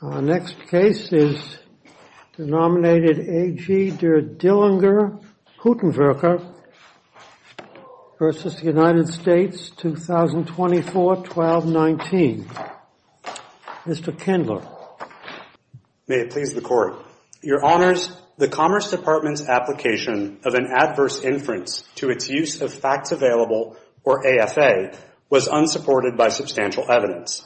2024-12-19. Mr. Kindler. May it please the Court. Your Honors, the Commerce Department's application of an adverse inference to its use of facts available, or AFA, was unsupported by substantial evidence.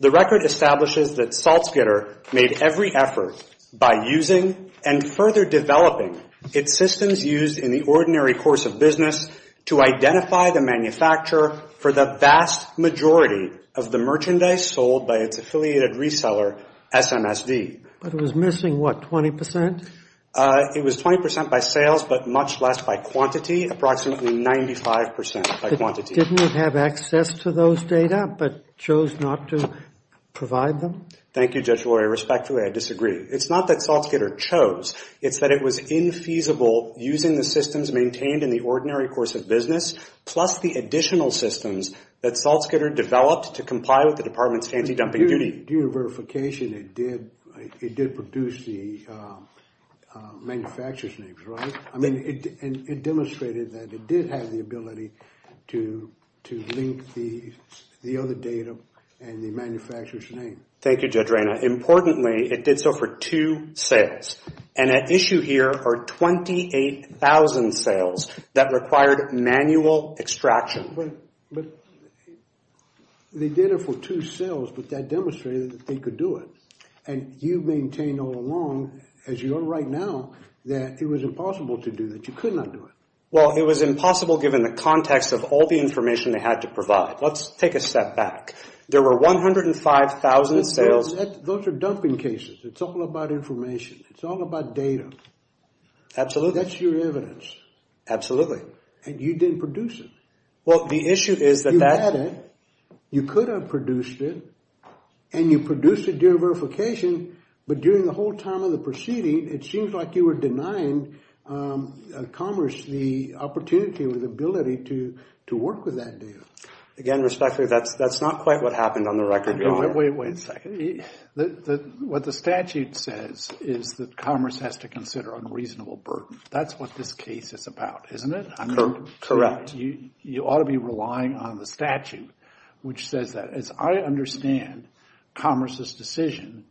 The record establishes that Saltzgitter made every effort by using and further developing its systems used in the ordinary course of business to identify the manufacturer for the vast majority of the merchandise sold by its affiliated reseller SMSD. But it was missing, what, 20 percent? It was 20 percent by sales, but much less by quantity, approximately 95 percent by quantity. Didn't it have access to those data, but chose not to provide them? Thank you, Judge Lurie. Respectfully, I disagree. It's not that Saltzgitter chose. It's that it was infeasible using the systems maintained in the ordinary course of business, plus the additional systems that Saltzgitter developed to comply with the Department's anti-dumping duty. Due to verification, it did produce the manufacturer's names, right? I mean, it demonstrated that it did have the ability to link the other data and the manufacturer's name. Thank you, Judge Reyna. Importantly, it did so for two sales, and at issue here are 28,000 sales that required manual extraction. But they did it for two sales, but that demonstrated that they could do it. And you maintain all along, as you are right now, that it was impossible to do, that you could not do it. Well, it was impossible given the context of all the information they had to provide. Let's take a step back. There were 105,000 sales. Those are dumping cases. It's all about information. It's all about data. Absolutely. That's your evidence. Absolutely. And you didn't produce it. Well, the issue is that that... You had it. You could have produced it. And you produced it due to verification, but during the whole time of the proceeding, it seems like you were denying Commerce the opportunity or the ability to work with that data. Again, respectfully, that's not quite what happened on the record. Wait a second. What the statute says is that Commerce has to consider unreasonable burden. That's what this case is about, isn't it? Correct. You ought to be relying on the statute, which says that. As I understand Commerce's decision,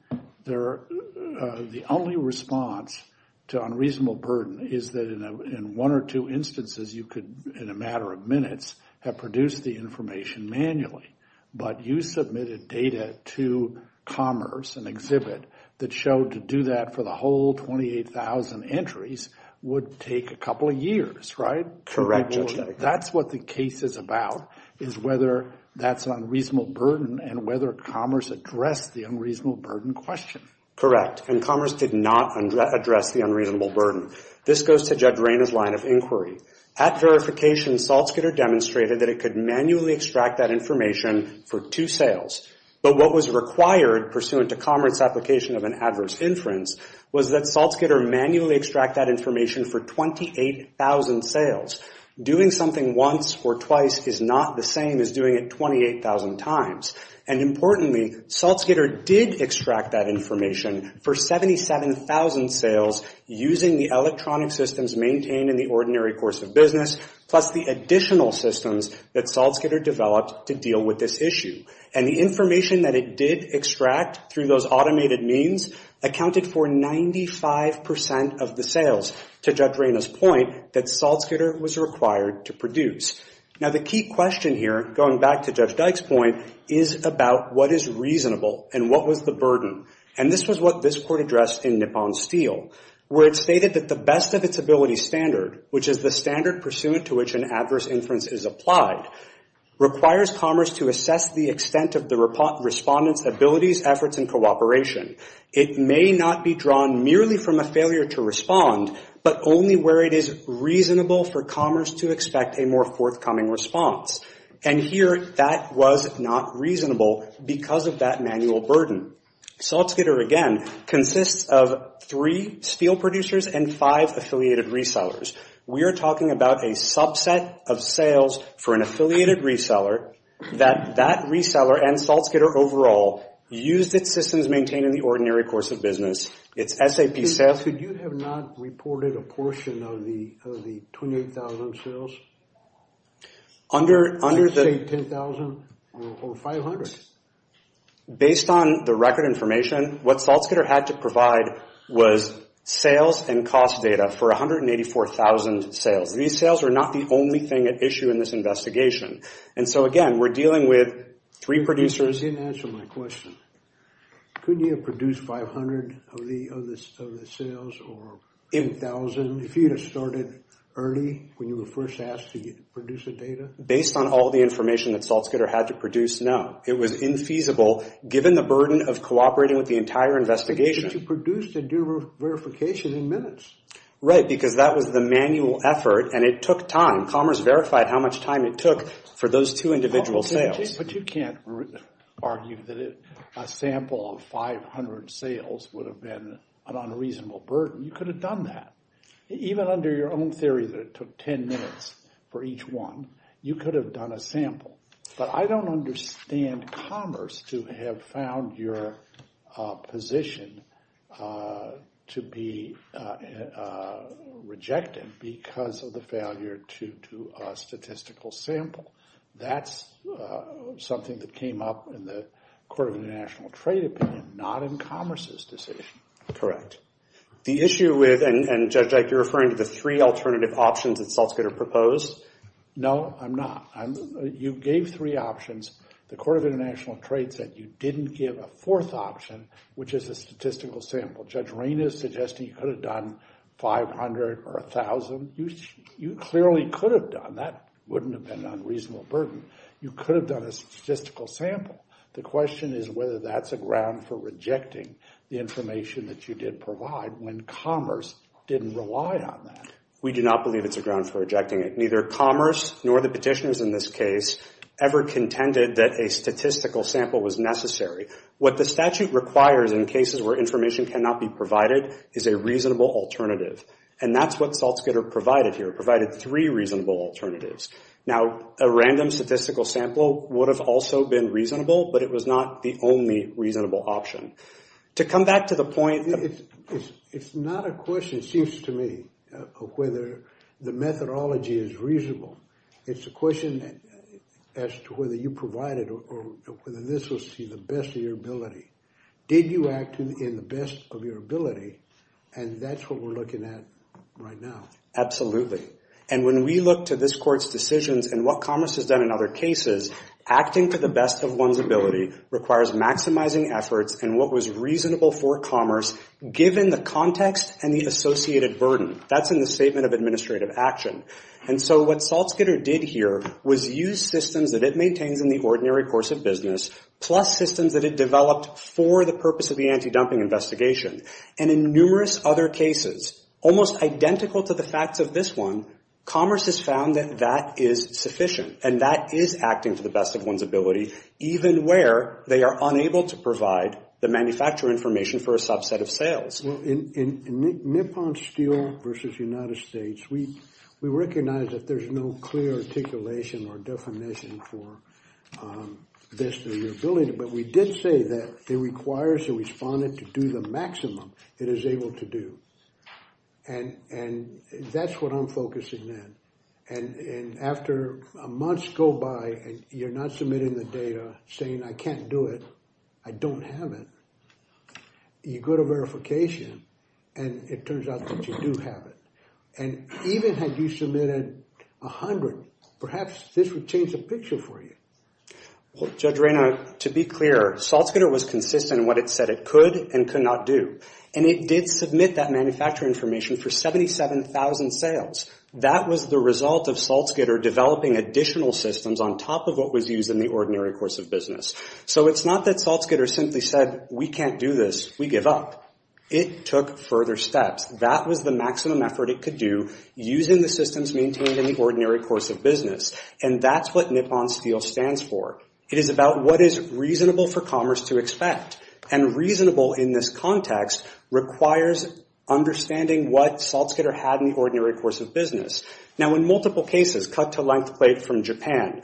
the only response to unreasonable burden is that in one or two instances, you could, in a matter of minutes, have produced the information manually. But you submitted data to Commerce, an exhibit that showed to do that for the whole 28,000 entries would take a couple of years, right? Correct. That's what the case is about, is whether that's unreasonable burden and whether Commerce addressed the unreasonable burden question. Correct. And Commerce did not address the unreasonable burden. This goes to Judge Rayner's line of inquiry. At verification, SaltSkidder demonstrated that it could manually extract that information for two sales. But what was required, pursuant to Commerce's application of an adverse inference, was that SaltSkidder manually extract that information for 28,000 sales. Doing something once or twice is not the same as doing it 28,000 times. And importantly, SaltSkidder did extract that information for 77,000 sales using the electronic systems maintained in the ordinary course of business, plus the additional systems that SaltSkidder developed to deal with this issue. And the information that it did extract through those automated means accounted for 95 percent of the sales, to Judge Rayner's point, that SaltSkidder was required to produce. Now, the key question here, going back to Judge Dyke's point, is about what is reasonable and what was the burden. And this was what this court addressed in Nippon Steel, where it stated that the best of its ability standard, which is the standard pursuant to which an adverse inference is applied, requires Commerce to assess the extent of the respondent's abilities, efforts, and cooperation. It may not be drawn merely from a failure to respond, but only where it is reasonable for Commerce to expect a more forthcoming response. And here, that was not reasonable because of that manual burden. SaltSkidder, again, consists of three steel producers and five affiliated resellers. We are talking about a subset of sales for an affiliated reseller that that reseller and SaltSkidder overall used its systems maintained in the ordinary course of business. It's SAP sales. Could you have not reported a portion of the 28,000 sales? Under the... Say 10,000 or 500. Based on the record information, what SaltSkidder had to provide was sales and cost data for 184,000 sales. These sales are not the only thing at issue in this investigation. And so, again, we're dealing with three producers... You didn't answer my question. Couldn't you have produced 500 of the sales or 10,000 if you had started early when you were first asked to produce the data? Based on all the information that SaltSkidder had to produce, no. It was infeasible given the burden of cooperating with the entire investigation. But you produced the verification in minutes. Right, because that was the manual effort and it took time. Commerce verified how much time it took for those two individual sales. But you can't argue that a sample of 500 sales would have been an unreasonable burden. You could have done that. Even under your own theory that it took 10 minutes for each one, you could have done a sample. But I don't understand commerce to have found your position to be rejected because of the failure to do a statistical sample. That's something that came up in the Court of International Trade opinion, not in commerce's decision. The issue with... And Judge Ike, you're referring to the three alternative options that SaltSkidder proposed? No, I'm not. You gave three options. The Court of International Trade said you didn't give a fourth option, which is a statistical sample. Judge Rain is suggesting you could have done 500 or 1,000. You clearly could have done. That wouldn't have been an unreasonable burden. You could have done a statistical sample. The question is whether that's a ground for rejecting the information that you did provide when commerce didn't rely on that. We do not believe it's a ground for rejecting it. Neither commerce nor the petitioners in this case ever contended that a statistical sample was necessary. What the statute requires in cases where information cannot be provided is a reasonable alternative. And that's what SaltSkidder provided here. It provided three reasonable alternatives. Now, a random statistical sample would have also been reasonable, but it was not the only reasonable option. To come back to the point... It's not a question, it seems to me, of whether the methodology is reasonable. It's a question as to whether you provided or whether this was to the best of your ability. Did you act in the best of your ability? And that's what we're looking at right now. Absolutely. And when we look to this Court's decisions and what commerce has done in other cases, acting to the best of one's ability requires maximizing efforts and what was reasonable for commerce, given the context and the associated burden. That's in the Statement of Administrative Action. And so what SaltSkidder did here was use systems that it maintains in the ordinary course of business, plus systems that it developed for the purpose of the anti-dumping investigation. And in numerous other cases, almost identical to the facts of this one, commerce has found that that is sufficient. And that is acting to the best of one's ability, even where they are unable to provide the manufacturer information for a subset of sales. Well, in Nippon Steel versus United States, we recognize that there's no clear articulation or definition for best of your ability. But we did say that it requires the respondent to do the maximum it is able to do. And that's what I'm focusing in. And after months go by and you're not submitting the data saying, I can't do it, I don't have it, you go to verification and it turns out that you do have it. And even had you submitted a hundred, perhaps this would change the picture for you. Judge Reyna, to be clear, SaltSkidder was consistent in what it said it could and could not do. And it did submit that manufacturer information for 77,000 sales. That was the result of SaltSkidder developing additional systems on top of what was used in the ordinary course of business. So it's not that SaltSkidder simply said, we can't do this, we give up. It took further steps. That was the maximum effort it could do using the systems maintained in the ordinary course of business. And that's what Nippon Steel stands for. It is about what is reasonable for commerce to expect. And reasonable in this context requires understanding what SaltSkidder had in the ordinary course of business. Now, in multiple cases, cut-to-length plate from Japan,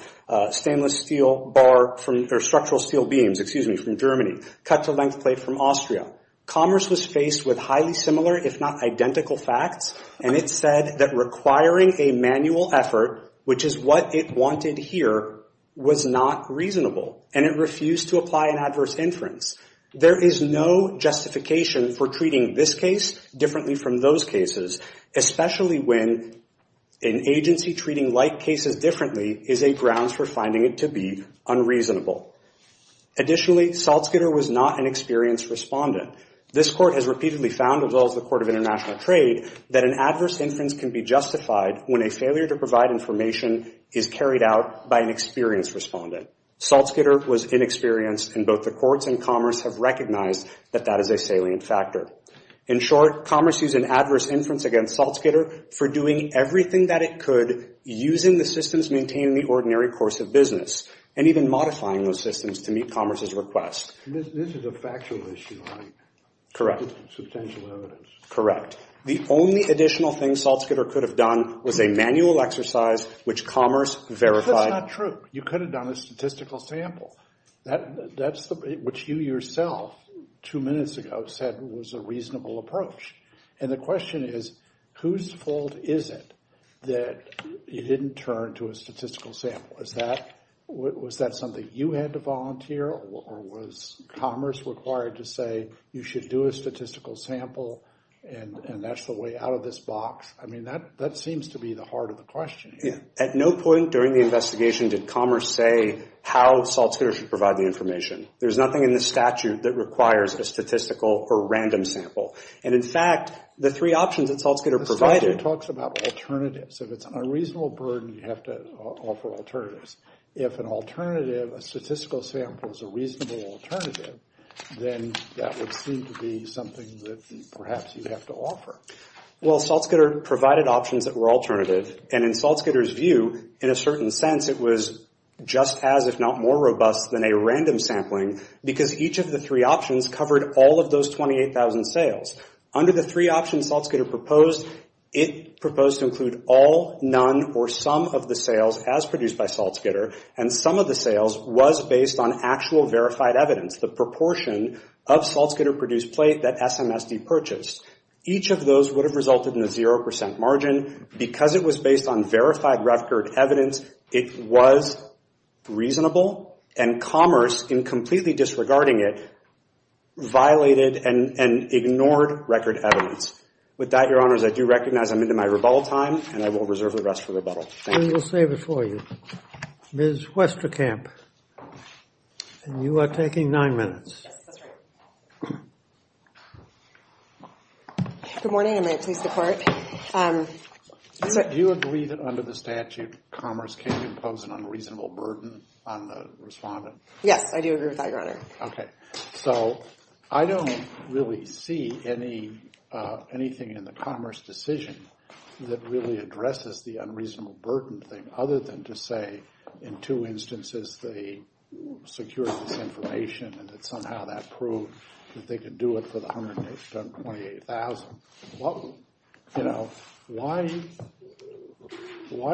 stainless steel bar or structural steel beams, excuse me, from Germany, cut-to-length plate from Austria. Commerce was faced with highly similar, if not identical facts. And it said that requiring a manual effort, which is what it wanted here, was not reasonable. And it refused to apply an adverse inference. There is no justification for treating this case differently from those cases, especially when an agency treating like cases differently is a grounds for finding it to be unreasonable. Additionally, SaltSkidder was not an experienced respondent. This court has repeatedly found, as well as the Court of International Trade, that an adverse inference can be justified when a failure to provide information is carried out by an experienced respondent. SaltSkidder was inexperienced and both the courts and commerce have recognized that that is a salient factor. In short, commerce used an adverse inference against SaltSkidder for doing everything that it could using the systems maintained in the ordinary course of business and even modifying those systems to meet commerce's request. This is a factual issue, right? Correct. Substantial evidence. Correct. The only additional thing SaltSkidder could have done was a manual exercise, which commerce verified. That's not true. You could have done a statistical sample. Which you yourself, two minutes ago, said was a reasonable approach. And the question is, whose fault is it that you didn't turn to a statistical sample? Was that something you had to volunteer or was commerce required to say, you should do a statistical sample and that's the way out of this box? I mean, that seems to be the heart of the question. At no point during the investigation did commerce say how SaltSkidder should provide the information. There's nothing in the statute that requires a statistical or random sample. And in fact, the three options that SaltSkidder provided... SaltSkidder talks about alternatives. If it's a reasonable burden, you have to offer alternatives. If an alternative, a statistical sample is a reasonable alternative, then that would seem to be something that perhaps you'd have to offer. Well, SaltSkidder provided options that were alternative. And in SaltSkidder's view, in a certain sense, it was just as, if not more robust than a random sampling because each of the three options covered all of those 28,000 sales. Under the three options SaltSkidder proposed, it proposed to include all, none, or some of the sales as produced by SaltSkidder. And some of the sales was based on actual verified evidence, the proportion of SaltSkidder produced plate that SMSD purchased. Each of those would have resulted in a 0% margin. Because it was based on verified record evidence, it was reasonable. And Commerce, in completely disregarding it, violated and ignored record evidence. With that, Your Honors, I do recognize I'm into my rebuttal time, and I will reserve the rest for rebuttal. Thank you. We'll save it for you. Ms. Westerkamp, and you are taking nine minutes. Yes, that's right. Good morning, and may it please the Court. Do you agree that under the statute Commerce can't impose an unreasonable burden on the respondent? Yes, I do agree with that, Your Honor. OK. So I don't really see anything in the Commerce decision that really addresses the unreasonable burden thing, other than to say, in two instances, they secured this information, and that somehow that proved that they could do it for the 128,000. Well, you know, why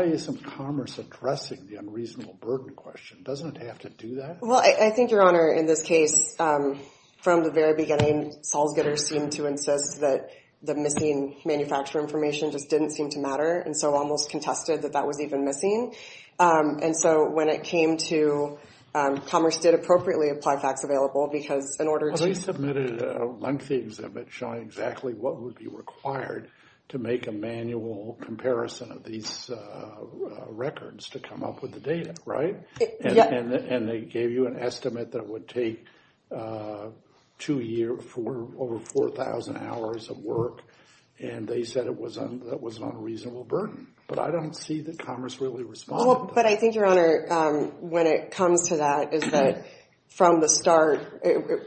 isn't Commerce addressing the unreasonable burden question? Doesn't it have to do that? Well, I think, Your Honor, in this case, from the very beginning, Solzgitter seemed to insist that the missing manufacturer information just didn't seem to matter, and so almost contested that that was even missing. And so when it came to Commerce did appropriately apply facts available, because in order to- lengthy exhibit showing exactly what would be required to make a manual comparison of these records to come up with the data, right? And they gave you an estimate that would take two years for over 4,000 hours of work, and they said it was an unreasonable burden. But I don't see that Commerce really responded. But I think, Your Honor, when it comes to that, is that from the start,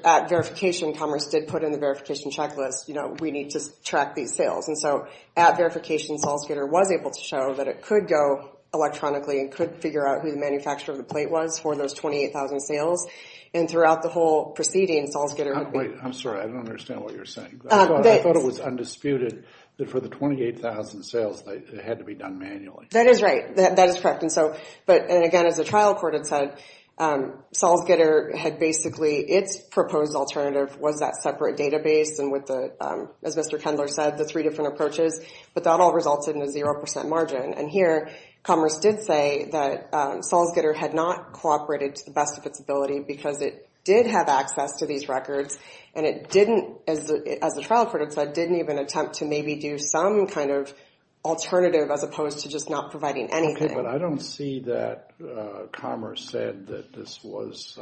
at verification, Commerce did put in the verification checklist, you know, we need to track these sales. And so at verification, Solzgitter was able to show that it could go electronically and could figure out who the manufacturer of the plate was for those 28,000 sales. And throughout the whole proceeding, Solzgitter- Wait, I'm sorry. I don't understand what you're saying. I thought it was undisputed that for the 28,000 sales, it had to be done manually. That is right. That is correct. And so, but again, as the trial court had said, Solzgitter had basically, its proposed alternative was that separate database and with the, as Mr. Kendler said, the three different approaches. But that all resulted in a 0% margin. And here, Commerce did say that Solzgitter had not cooperated to the best of its ability because it did have access to these records. And it didn't, as the trial court had said, didn't even attempt to maybe do some kind of alternative as opposed to just not providing anything. But I don't see that Commerce said that this was,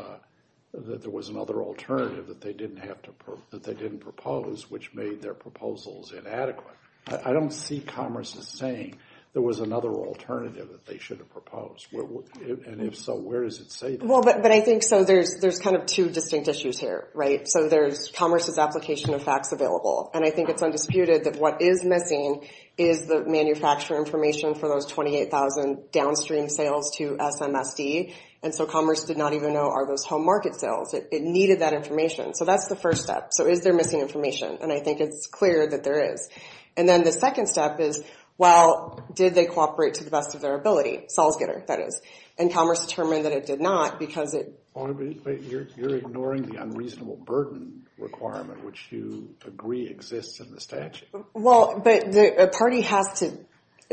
that there was another alternative that they didn't have to, that they didn't propose, which made their proposals inadequate. I don't see Commerce as saying there was another alternative that they should have And if so, where does it say that? Well, but I think so, there's kind of two distinct issues here, right? So there's Commerce's application of facts available. And I think it's undisputed that what is missing is the manufacturer information for those 28,000 downstream sales to SMSD. And so Commerce did not even know, are those home market sales? It needed that information. So that's the first step. So is there missing information? And I think it's clear that there is. And then the second step is, well, did they cooperate to the best of their ability? Solzgitter, that is. And Commerce determined that it did not because it You're ignoring the unreasonable burden requirement, which you agree exists in the statute. Well, but the party has to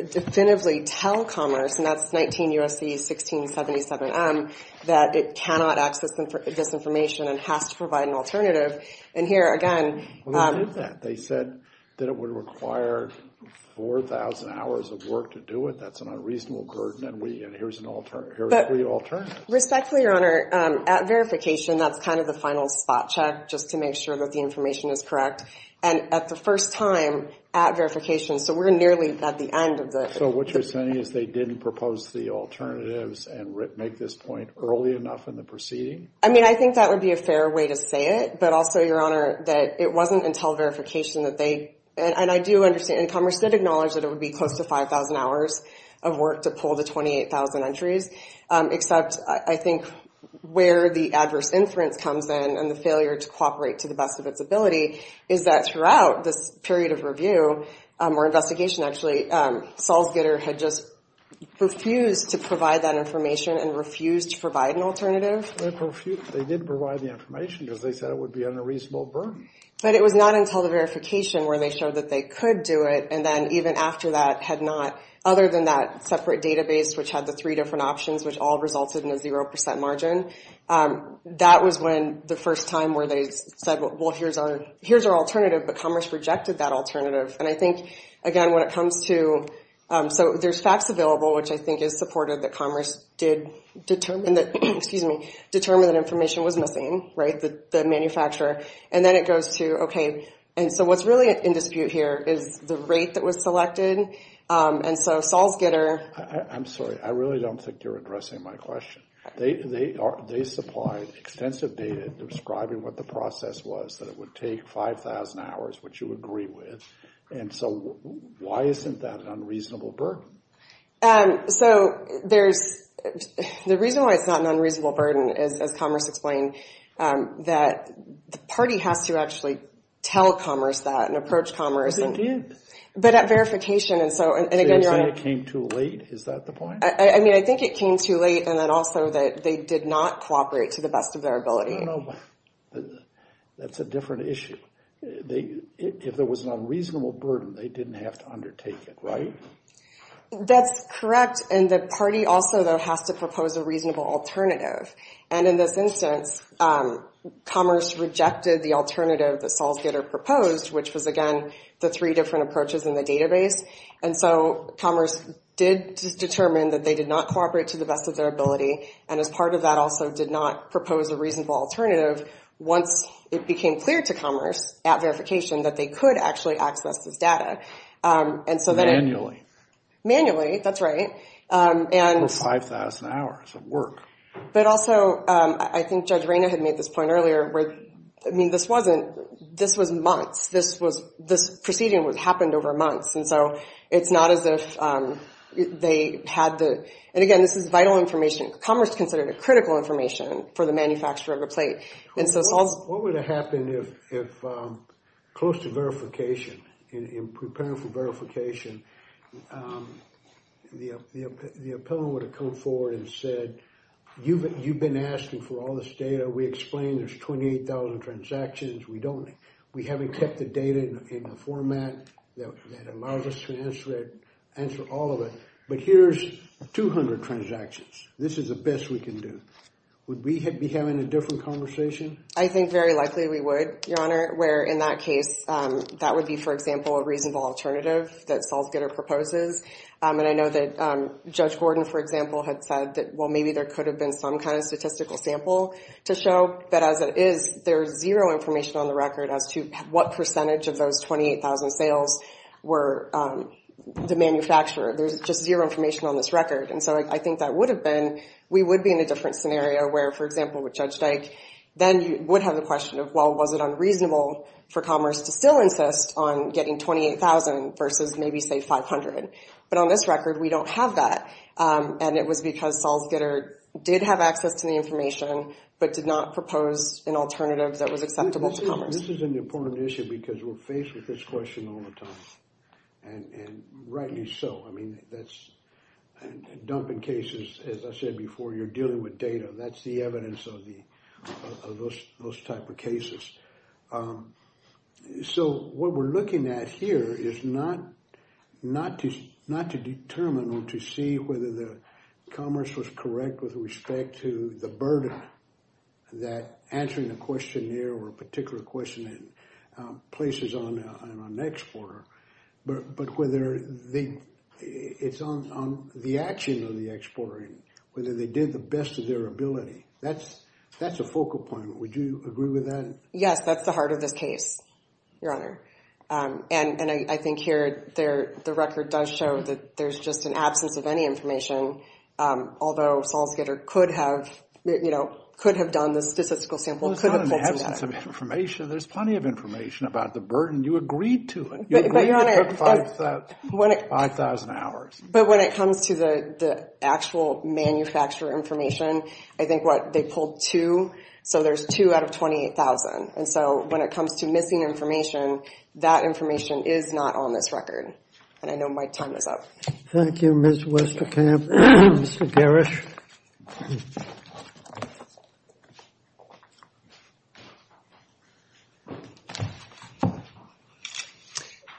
definitively tell Commerce, and that's 19 U.S.C. 1677M, that it cannot access this information and has to provide an alternative. And here again, Well, they did that. They said that it would require 4,000 hours of work to do it. That's an unreasonable burden. And here's an alternative, here's a free alternative. Respectfully, Your Honor, at verification, that's kind of the final spot check, just to make sure that the information is correct. And at the first time, at verification, so we're nearly at the end of the So what you're saying is they didn't propose the alternatives and make this point early enough in the proceeding? I mean, I think that would be a fair way to say it. But also, Your Honor, that it wasn't until verification that they And I do understand Commerce did acknowledge that it would be close to 5,000 hours of work to pull the 28,000 entries. Except I think where the adverse inference comes in and the failure to cooperate to the best of its ability is that throughout this period of review or investigation, actually, Salzgitter had just refused to provide that information and refused to provide an alternative. They did provide the information because they said it would be an unreasonable burden. But it was not until the verification where they showed that they could do it and then even after that had not, other than that separate database, which had the three different options, which all resulted in a 0% margin. That was when the first time where they said, well, here's our alternative. But Commerce rejected that alternative. And I think, again, when it comes to... So there's facts available, which I think is supportive that Commerce did determine that, excuse me, determined that information was missing, right, the manufacturer. And then it goes to, okay, and so what's really in dispute here is the rate that was selected. And so Salzgitter... I'm sorry. I really don't think you're addressing my question. They supplied extensive data describing what the process was, that it would take 5,000 hours, which you agree with. And so why isn't that an unreasonable burden? So there's... The reason why it's not an unreasonable burden is, as Commerce explained, that the party has to actually tell Commerce that and approach Commerce. But it did. But at verification, and so... So you're saying it came too late? Is that the point? I mean, I think it came too late. And then also that they did not cooperate to the best of their ability. I don't know. That's a different issue. If there was an unreasonable burden, they didn't have to undertake it, right? That's correct. And the party also, though, has to propose a reasonable alternative. And in this instance, Commerce rejected the alternative that Salzgitter proposed, which was, again, the three different approaches in the database. And so Commerce did determine that they did not cooperate to the best of their ability. And as part of that, also did not propose a reasonable alternative once it became clear to Commerce at verification that they could actually access this data. And so then... That's right. And... For 5,000 hours of work. But also, I think Judge Reyna had made this point earlier, where... I mean, this wasn't... This was months. This was... This proceeding happened over months. And so it's not as if they had the... And again, this is vital information. Commerce considered it critical information for the manufacturer of a plate. And so it's also... What would have happened if, close to verification, in preparing for verification, the appellant would have come forward and said, you've been asking for all this data. We explained there's 28,000 transactions. We haven't kept the data in a format that allows us to answer all of it. But here's 200 transactions. This is the best we can do. Would we be having a different conversation? I think very likely we would, Your Honor, where in that case, that would be, for example, a reasonable alternative that Salzgitter proposes. And I know that Judge Gordon, for example, had said that, well, maybe there could have been some kind of statistical sample to show. But as it is, there's zero information on the record as to what percentage of those 28,000 sales were the manufacturer. There's just zero information on this record. And so I think that would have been... We would be in a different scenario where, for example, with Judge Dyke, then you would have the question of, well, was it unreasonable for Commerce to still insist on getting 28,000 versus maybe, say, 500? But on this record, we don't have that. And it was because Salzgitter did have access to the information, but did not propose an alternative that was acceptable to Commerce. This is an important issue because we're faced with this question all the time. And rightly so. I mean, that's... Dumping cases, as I said before, you're dealing with data. That's the evidence of those type of cases. So what we're looking at here is not to determine or to see whether Commerce was correct with respect to the burden that answering the question here or a particular question in places on an exporter, but whether it's on the action of the exporter, whether they did the best of their ability. That's a focal point. Would you agree with that? Yes, that's the heart of this case, Your Honor. And I think here, the record does show that there's just an absence of any information, although Salzgitter could have, you know, could have done the statistical sample. Well, it's not an absence of information. There's plenty of information about the burden. You agreed to it. You agreed it took 5,000 hours. But when it comes to the actual manufacturer information, I think what they pulled two. So there's two out of 28,000. And so when it comes to missing information, that information is not on this record. And I know my time is up. Thank you, Ms. Westerkamp. Mr. Garish.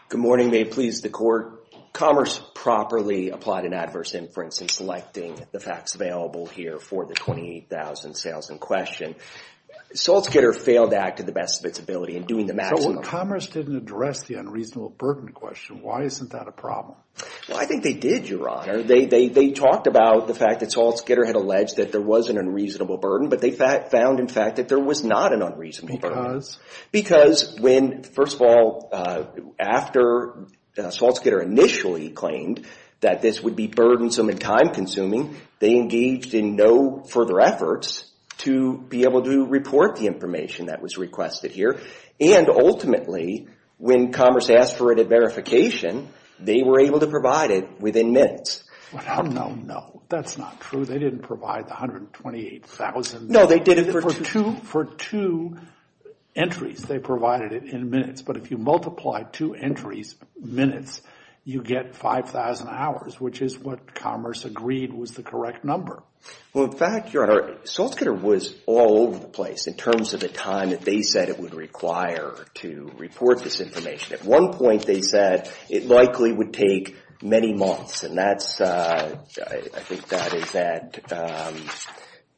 Good morning. May it please the Court. Commerce properly applied an adverse inference in selecting the facts available here for the 28,000 sales in question. Salzgitter failed to act to the best of its ability in doing the maximum. So when Commerce didn't address the unreasonable burden question, why isn't that a problem? Well, I think they did, Your Honor. They talked about the fact that Salzgitter had alleged that there was an unreasonable burden, but they found, in fact, that there was not an unreasonable burden. Because when, first of all, after Salzgitter initially claimed that this would be burdensome and time-consuming, they engaged in no further efforts to be able to report the information that was requested here. And ultimately, when Commerce asked for it at verification, they were able to provide it within minutes. Well, no, no. That's not true. They didn't provide the 128,000 for two entries. They provided it in minutes. But if you multiply two entries, minutes, you get 5,000 hours, which is what Commerce agreed was the correct number. Well, in fact, Your Honor, Salzgitter was all over the place in terms of the time that they said it would require to report this information. At one point, they said it likely would take many months. And that's, I think that is that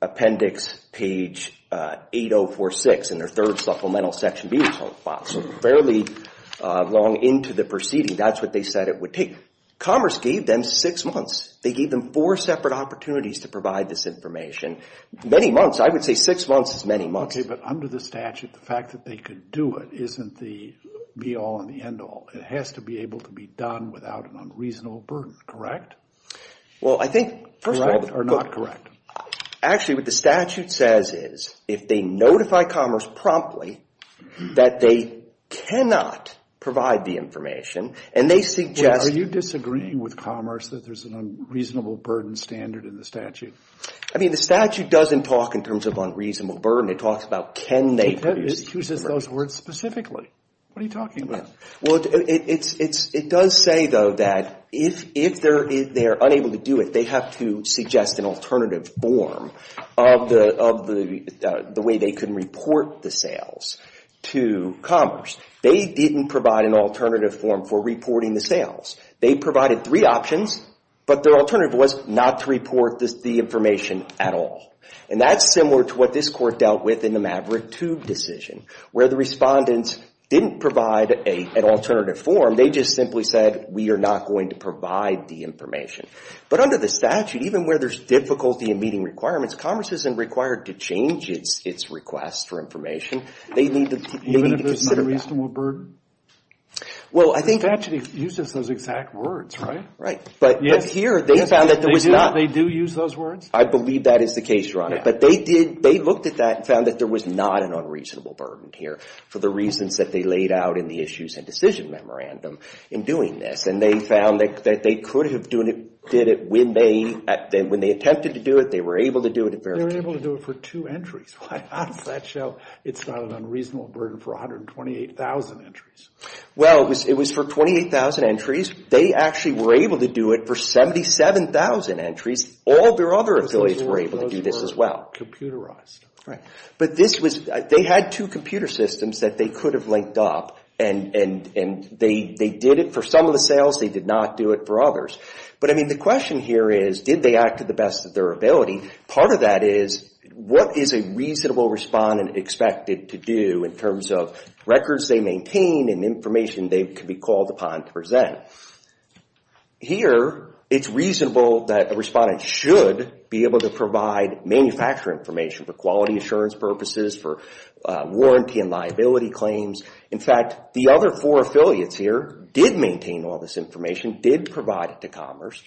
appendix page 8046 in their third supplemental section B file. So fairly long into the proceeding, that's what they said it would take. Commerce gave them six months. They gave them four separate opportunities to provide this information. Many months. I would say six months is many months. But under the statute, the fact that they could do it isn't the be-all and the end-all. It has to be able to be done without an unreasonable burden, correct? Well, I think, first of all, actually what the statute says is if they notify Commerce promptly that they cannot provide the information and they suggest... Are you disagreeing with Commerce that there's an unreasonable burden standard in the statute? I mean, the statute doesn't talk in terms of unreasonable burden. It talks about can they produce... Who says those words specifically? What are you talking about? Well, it does say, though, that if they're unable to do it, they have to suggest an alternative form of the way they can report the sales to Commerce. They didn't provide an alternative form for reporting the sales. They provided three options, but their alternative was not to report the information at all. And that's similar to what this court dealt with in the Maverick 2 decision, where the respondents didn't provide an alternative form. They just simply said, we are not going to provide the information. But under the statute, even where there's difficulty in meeting requirements, Commerce isn't required to change its request for information. They need to consider... Even if it's not a reasonable burden? Well, I think... The statute uses those exact words, right? Right. But here, they found that there was not... They do use those words? I believe that is the case, Your Honor. But they looked at that and found that there was not an unreasonable burden here for the reasons that they laid out in the issues and decision memorandum in doing this. And they found that they could have did it when they attempted to do it. They were able to do it at very... They were able to do it for two entries. Why, on a nutshell, it's not an unreasonable burden for 128,000 entries? Well, it was for 28,000 entries. They actually were able to do it for 77,000 entries. All their other affiliates were able to do this as well. Those were computerized. Right. But this was... They had two computer systems that they could have linked up and they did it for some of the sales. They did not do it for others. But, I mean, the question here is, did they act to the best of their ability? Part of that is, what is a reasonable respondent expected to do in terms of records they maintain and information they could be called upon to present? Here, it's reasonable that a respondent should be able to provide manufacturer information for quality assurance purposes, for warranty and liability claims. In fact, the other four affiliates here did maintain all this information, did provide it to Commerce.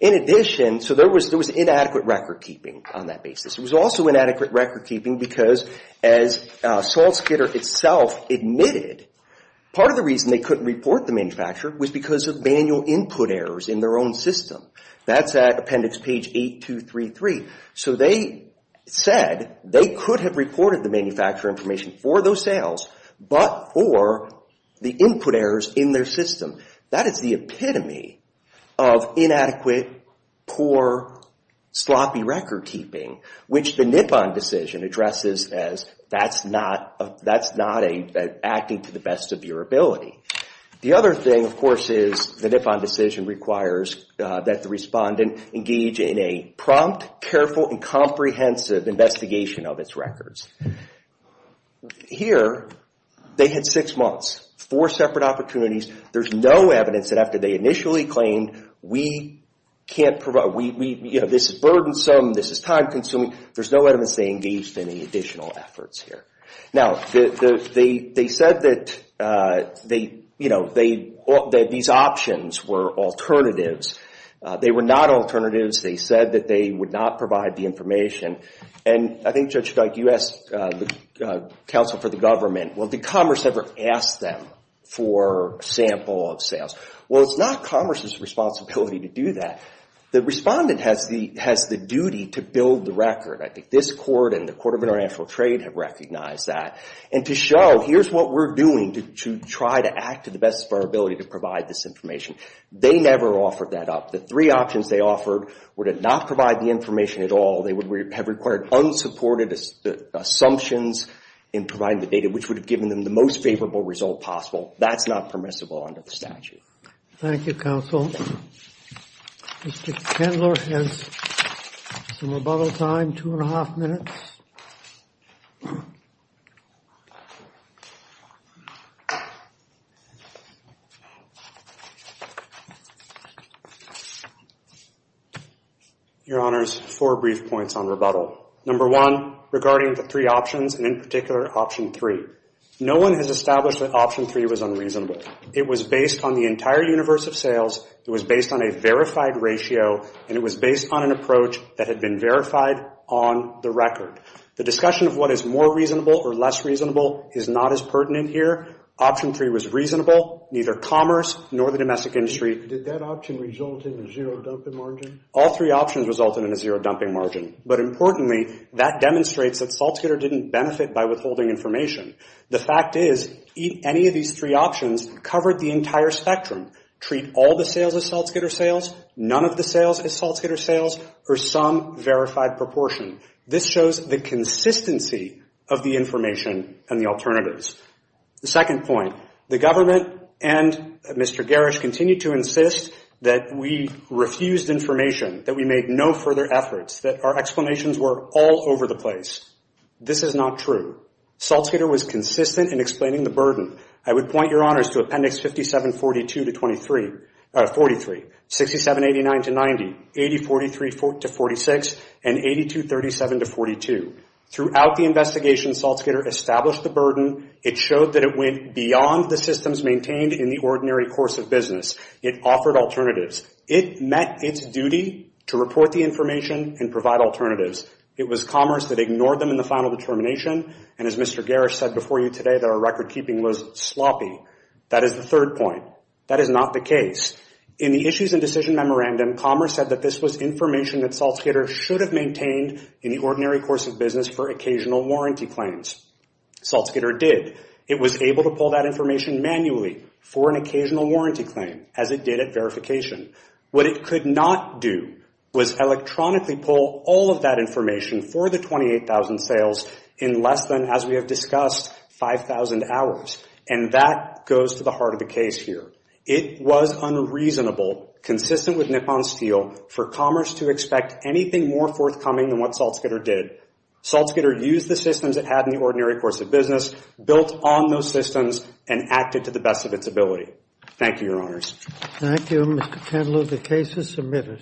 In addition, so there was inadequate record keeping on that basis. It was also inadequate record keeping because, as SaltSkidder itself admitted, part of the manual input errors in their own system. That's at appendix page 8233. So they said they could have reported the manufacturer information for those sales, but for the input errors in their system. That is the epitome of inadequate, poor, sloppy record keeping, which the Nippon decision addresses as that's not acting to the best of your ability. The other thing, of course, is the Nippon decision requires that the respondent engage in a prompt, careful, and comprehensive investigation of its records. Here, they had six months, four separate opportunities. There's no evidence that after they initially claimed, this is burdensome, this is time consuming. There's no evidence they engaged in any additional efforts here. Now, they said that these options were alternatives. They were not alternatives. They said that they would not provide the information. I think, Judge Scott, you asked the counsel for the government, well, did Commerce ever ask them for a sample of sales? Well, it's not Commerce's responsibility to do that. The respondent has the duty to build the record. I think this court and the Court of International Trade have recognized that. And to show, here's what we're doing to try to act to the best of our ability to provide this information. They never offered that up. The three options they offered were to not provide the information at all. They would have required unsupported assumptions in providing the data, which would have given them the most favorable result possible. That's not permissible under the statute. Thank you, counsel. Mr. Kendler has some rebuttal time, two and a half minutes. Your Honors, four brief points on rebuttal. Number one, regarding the three options, and in particular option three. No one has established that option three was unreasonable. It was based on the entire universe of sales. It was based on a verified ratio, and it was based on an approach that had been verified on the record. The discussion of what is more reasonable or less reasonable is not as pertinent here. Option three was reasonable. Neither Commerce nor the domestic industry. Did that option result in a zero dumping margin? All three options resulted in a zero dumping margin. But importantly, that demonstrates that SaltScatter didn't benefit by withholding information. The fact is, any of these three options covered the entire spectrum. Treat all the sales as SaltScatter sales, none of the sales as SaltScatter sales, or some verified proportion. This shows the consistency of the information and the alternatives. The second point, the government and Mr. Garish continued to insist that we refused information, that we made no further efforts, that our explanations were all over the place. This is not true. SaltScatter was consistent in explaining the burden. I would point your honors to Appendix 57-42-43, 67-89-90, 80-43-46, and 82-37-42. Throughout the investigation, SaltScatter established the burden. It showed that it went beyond the systems maintained in the ordinary course of business. It offered alternatives. It met its duty to report the information and provide alternatives. It was Commerce that ignored them in the final determination, and as Mr. Garish said before you today, that our record keeping was sloppy. That is the third point. That is not the case. In the issues and decision memorandum, Commerce said that this was information that SaltScatter should have maintained in the ordinary course of business for occasional warranty claims. SaltScatter did. It was able to pull that information manually for an occasional warranty claim, as it did at verification. What it could not do was electronically pull all of that information for the 28,000 sales in less than, as we have discussed, 5,000 hours, and that goes to the heart of the case here. It was unreasonable, consistent with nip on steel, for Commerce to expect anything more forthcoming than what SaltScatter did. SaltScatter used the systems it had in the ordinary course of business, built on those systems, and acted to the best of its ability. Thank you, your honors. Thank you, Mr. Kendall. The case is submitted.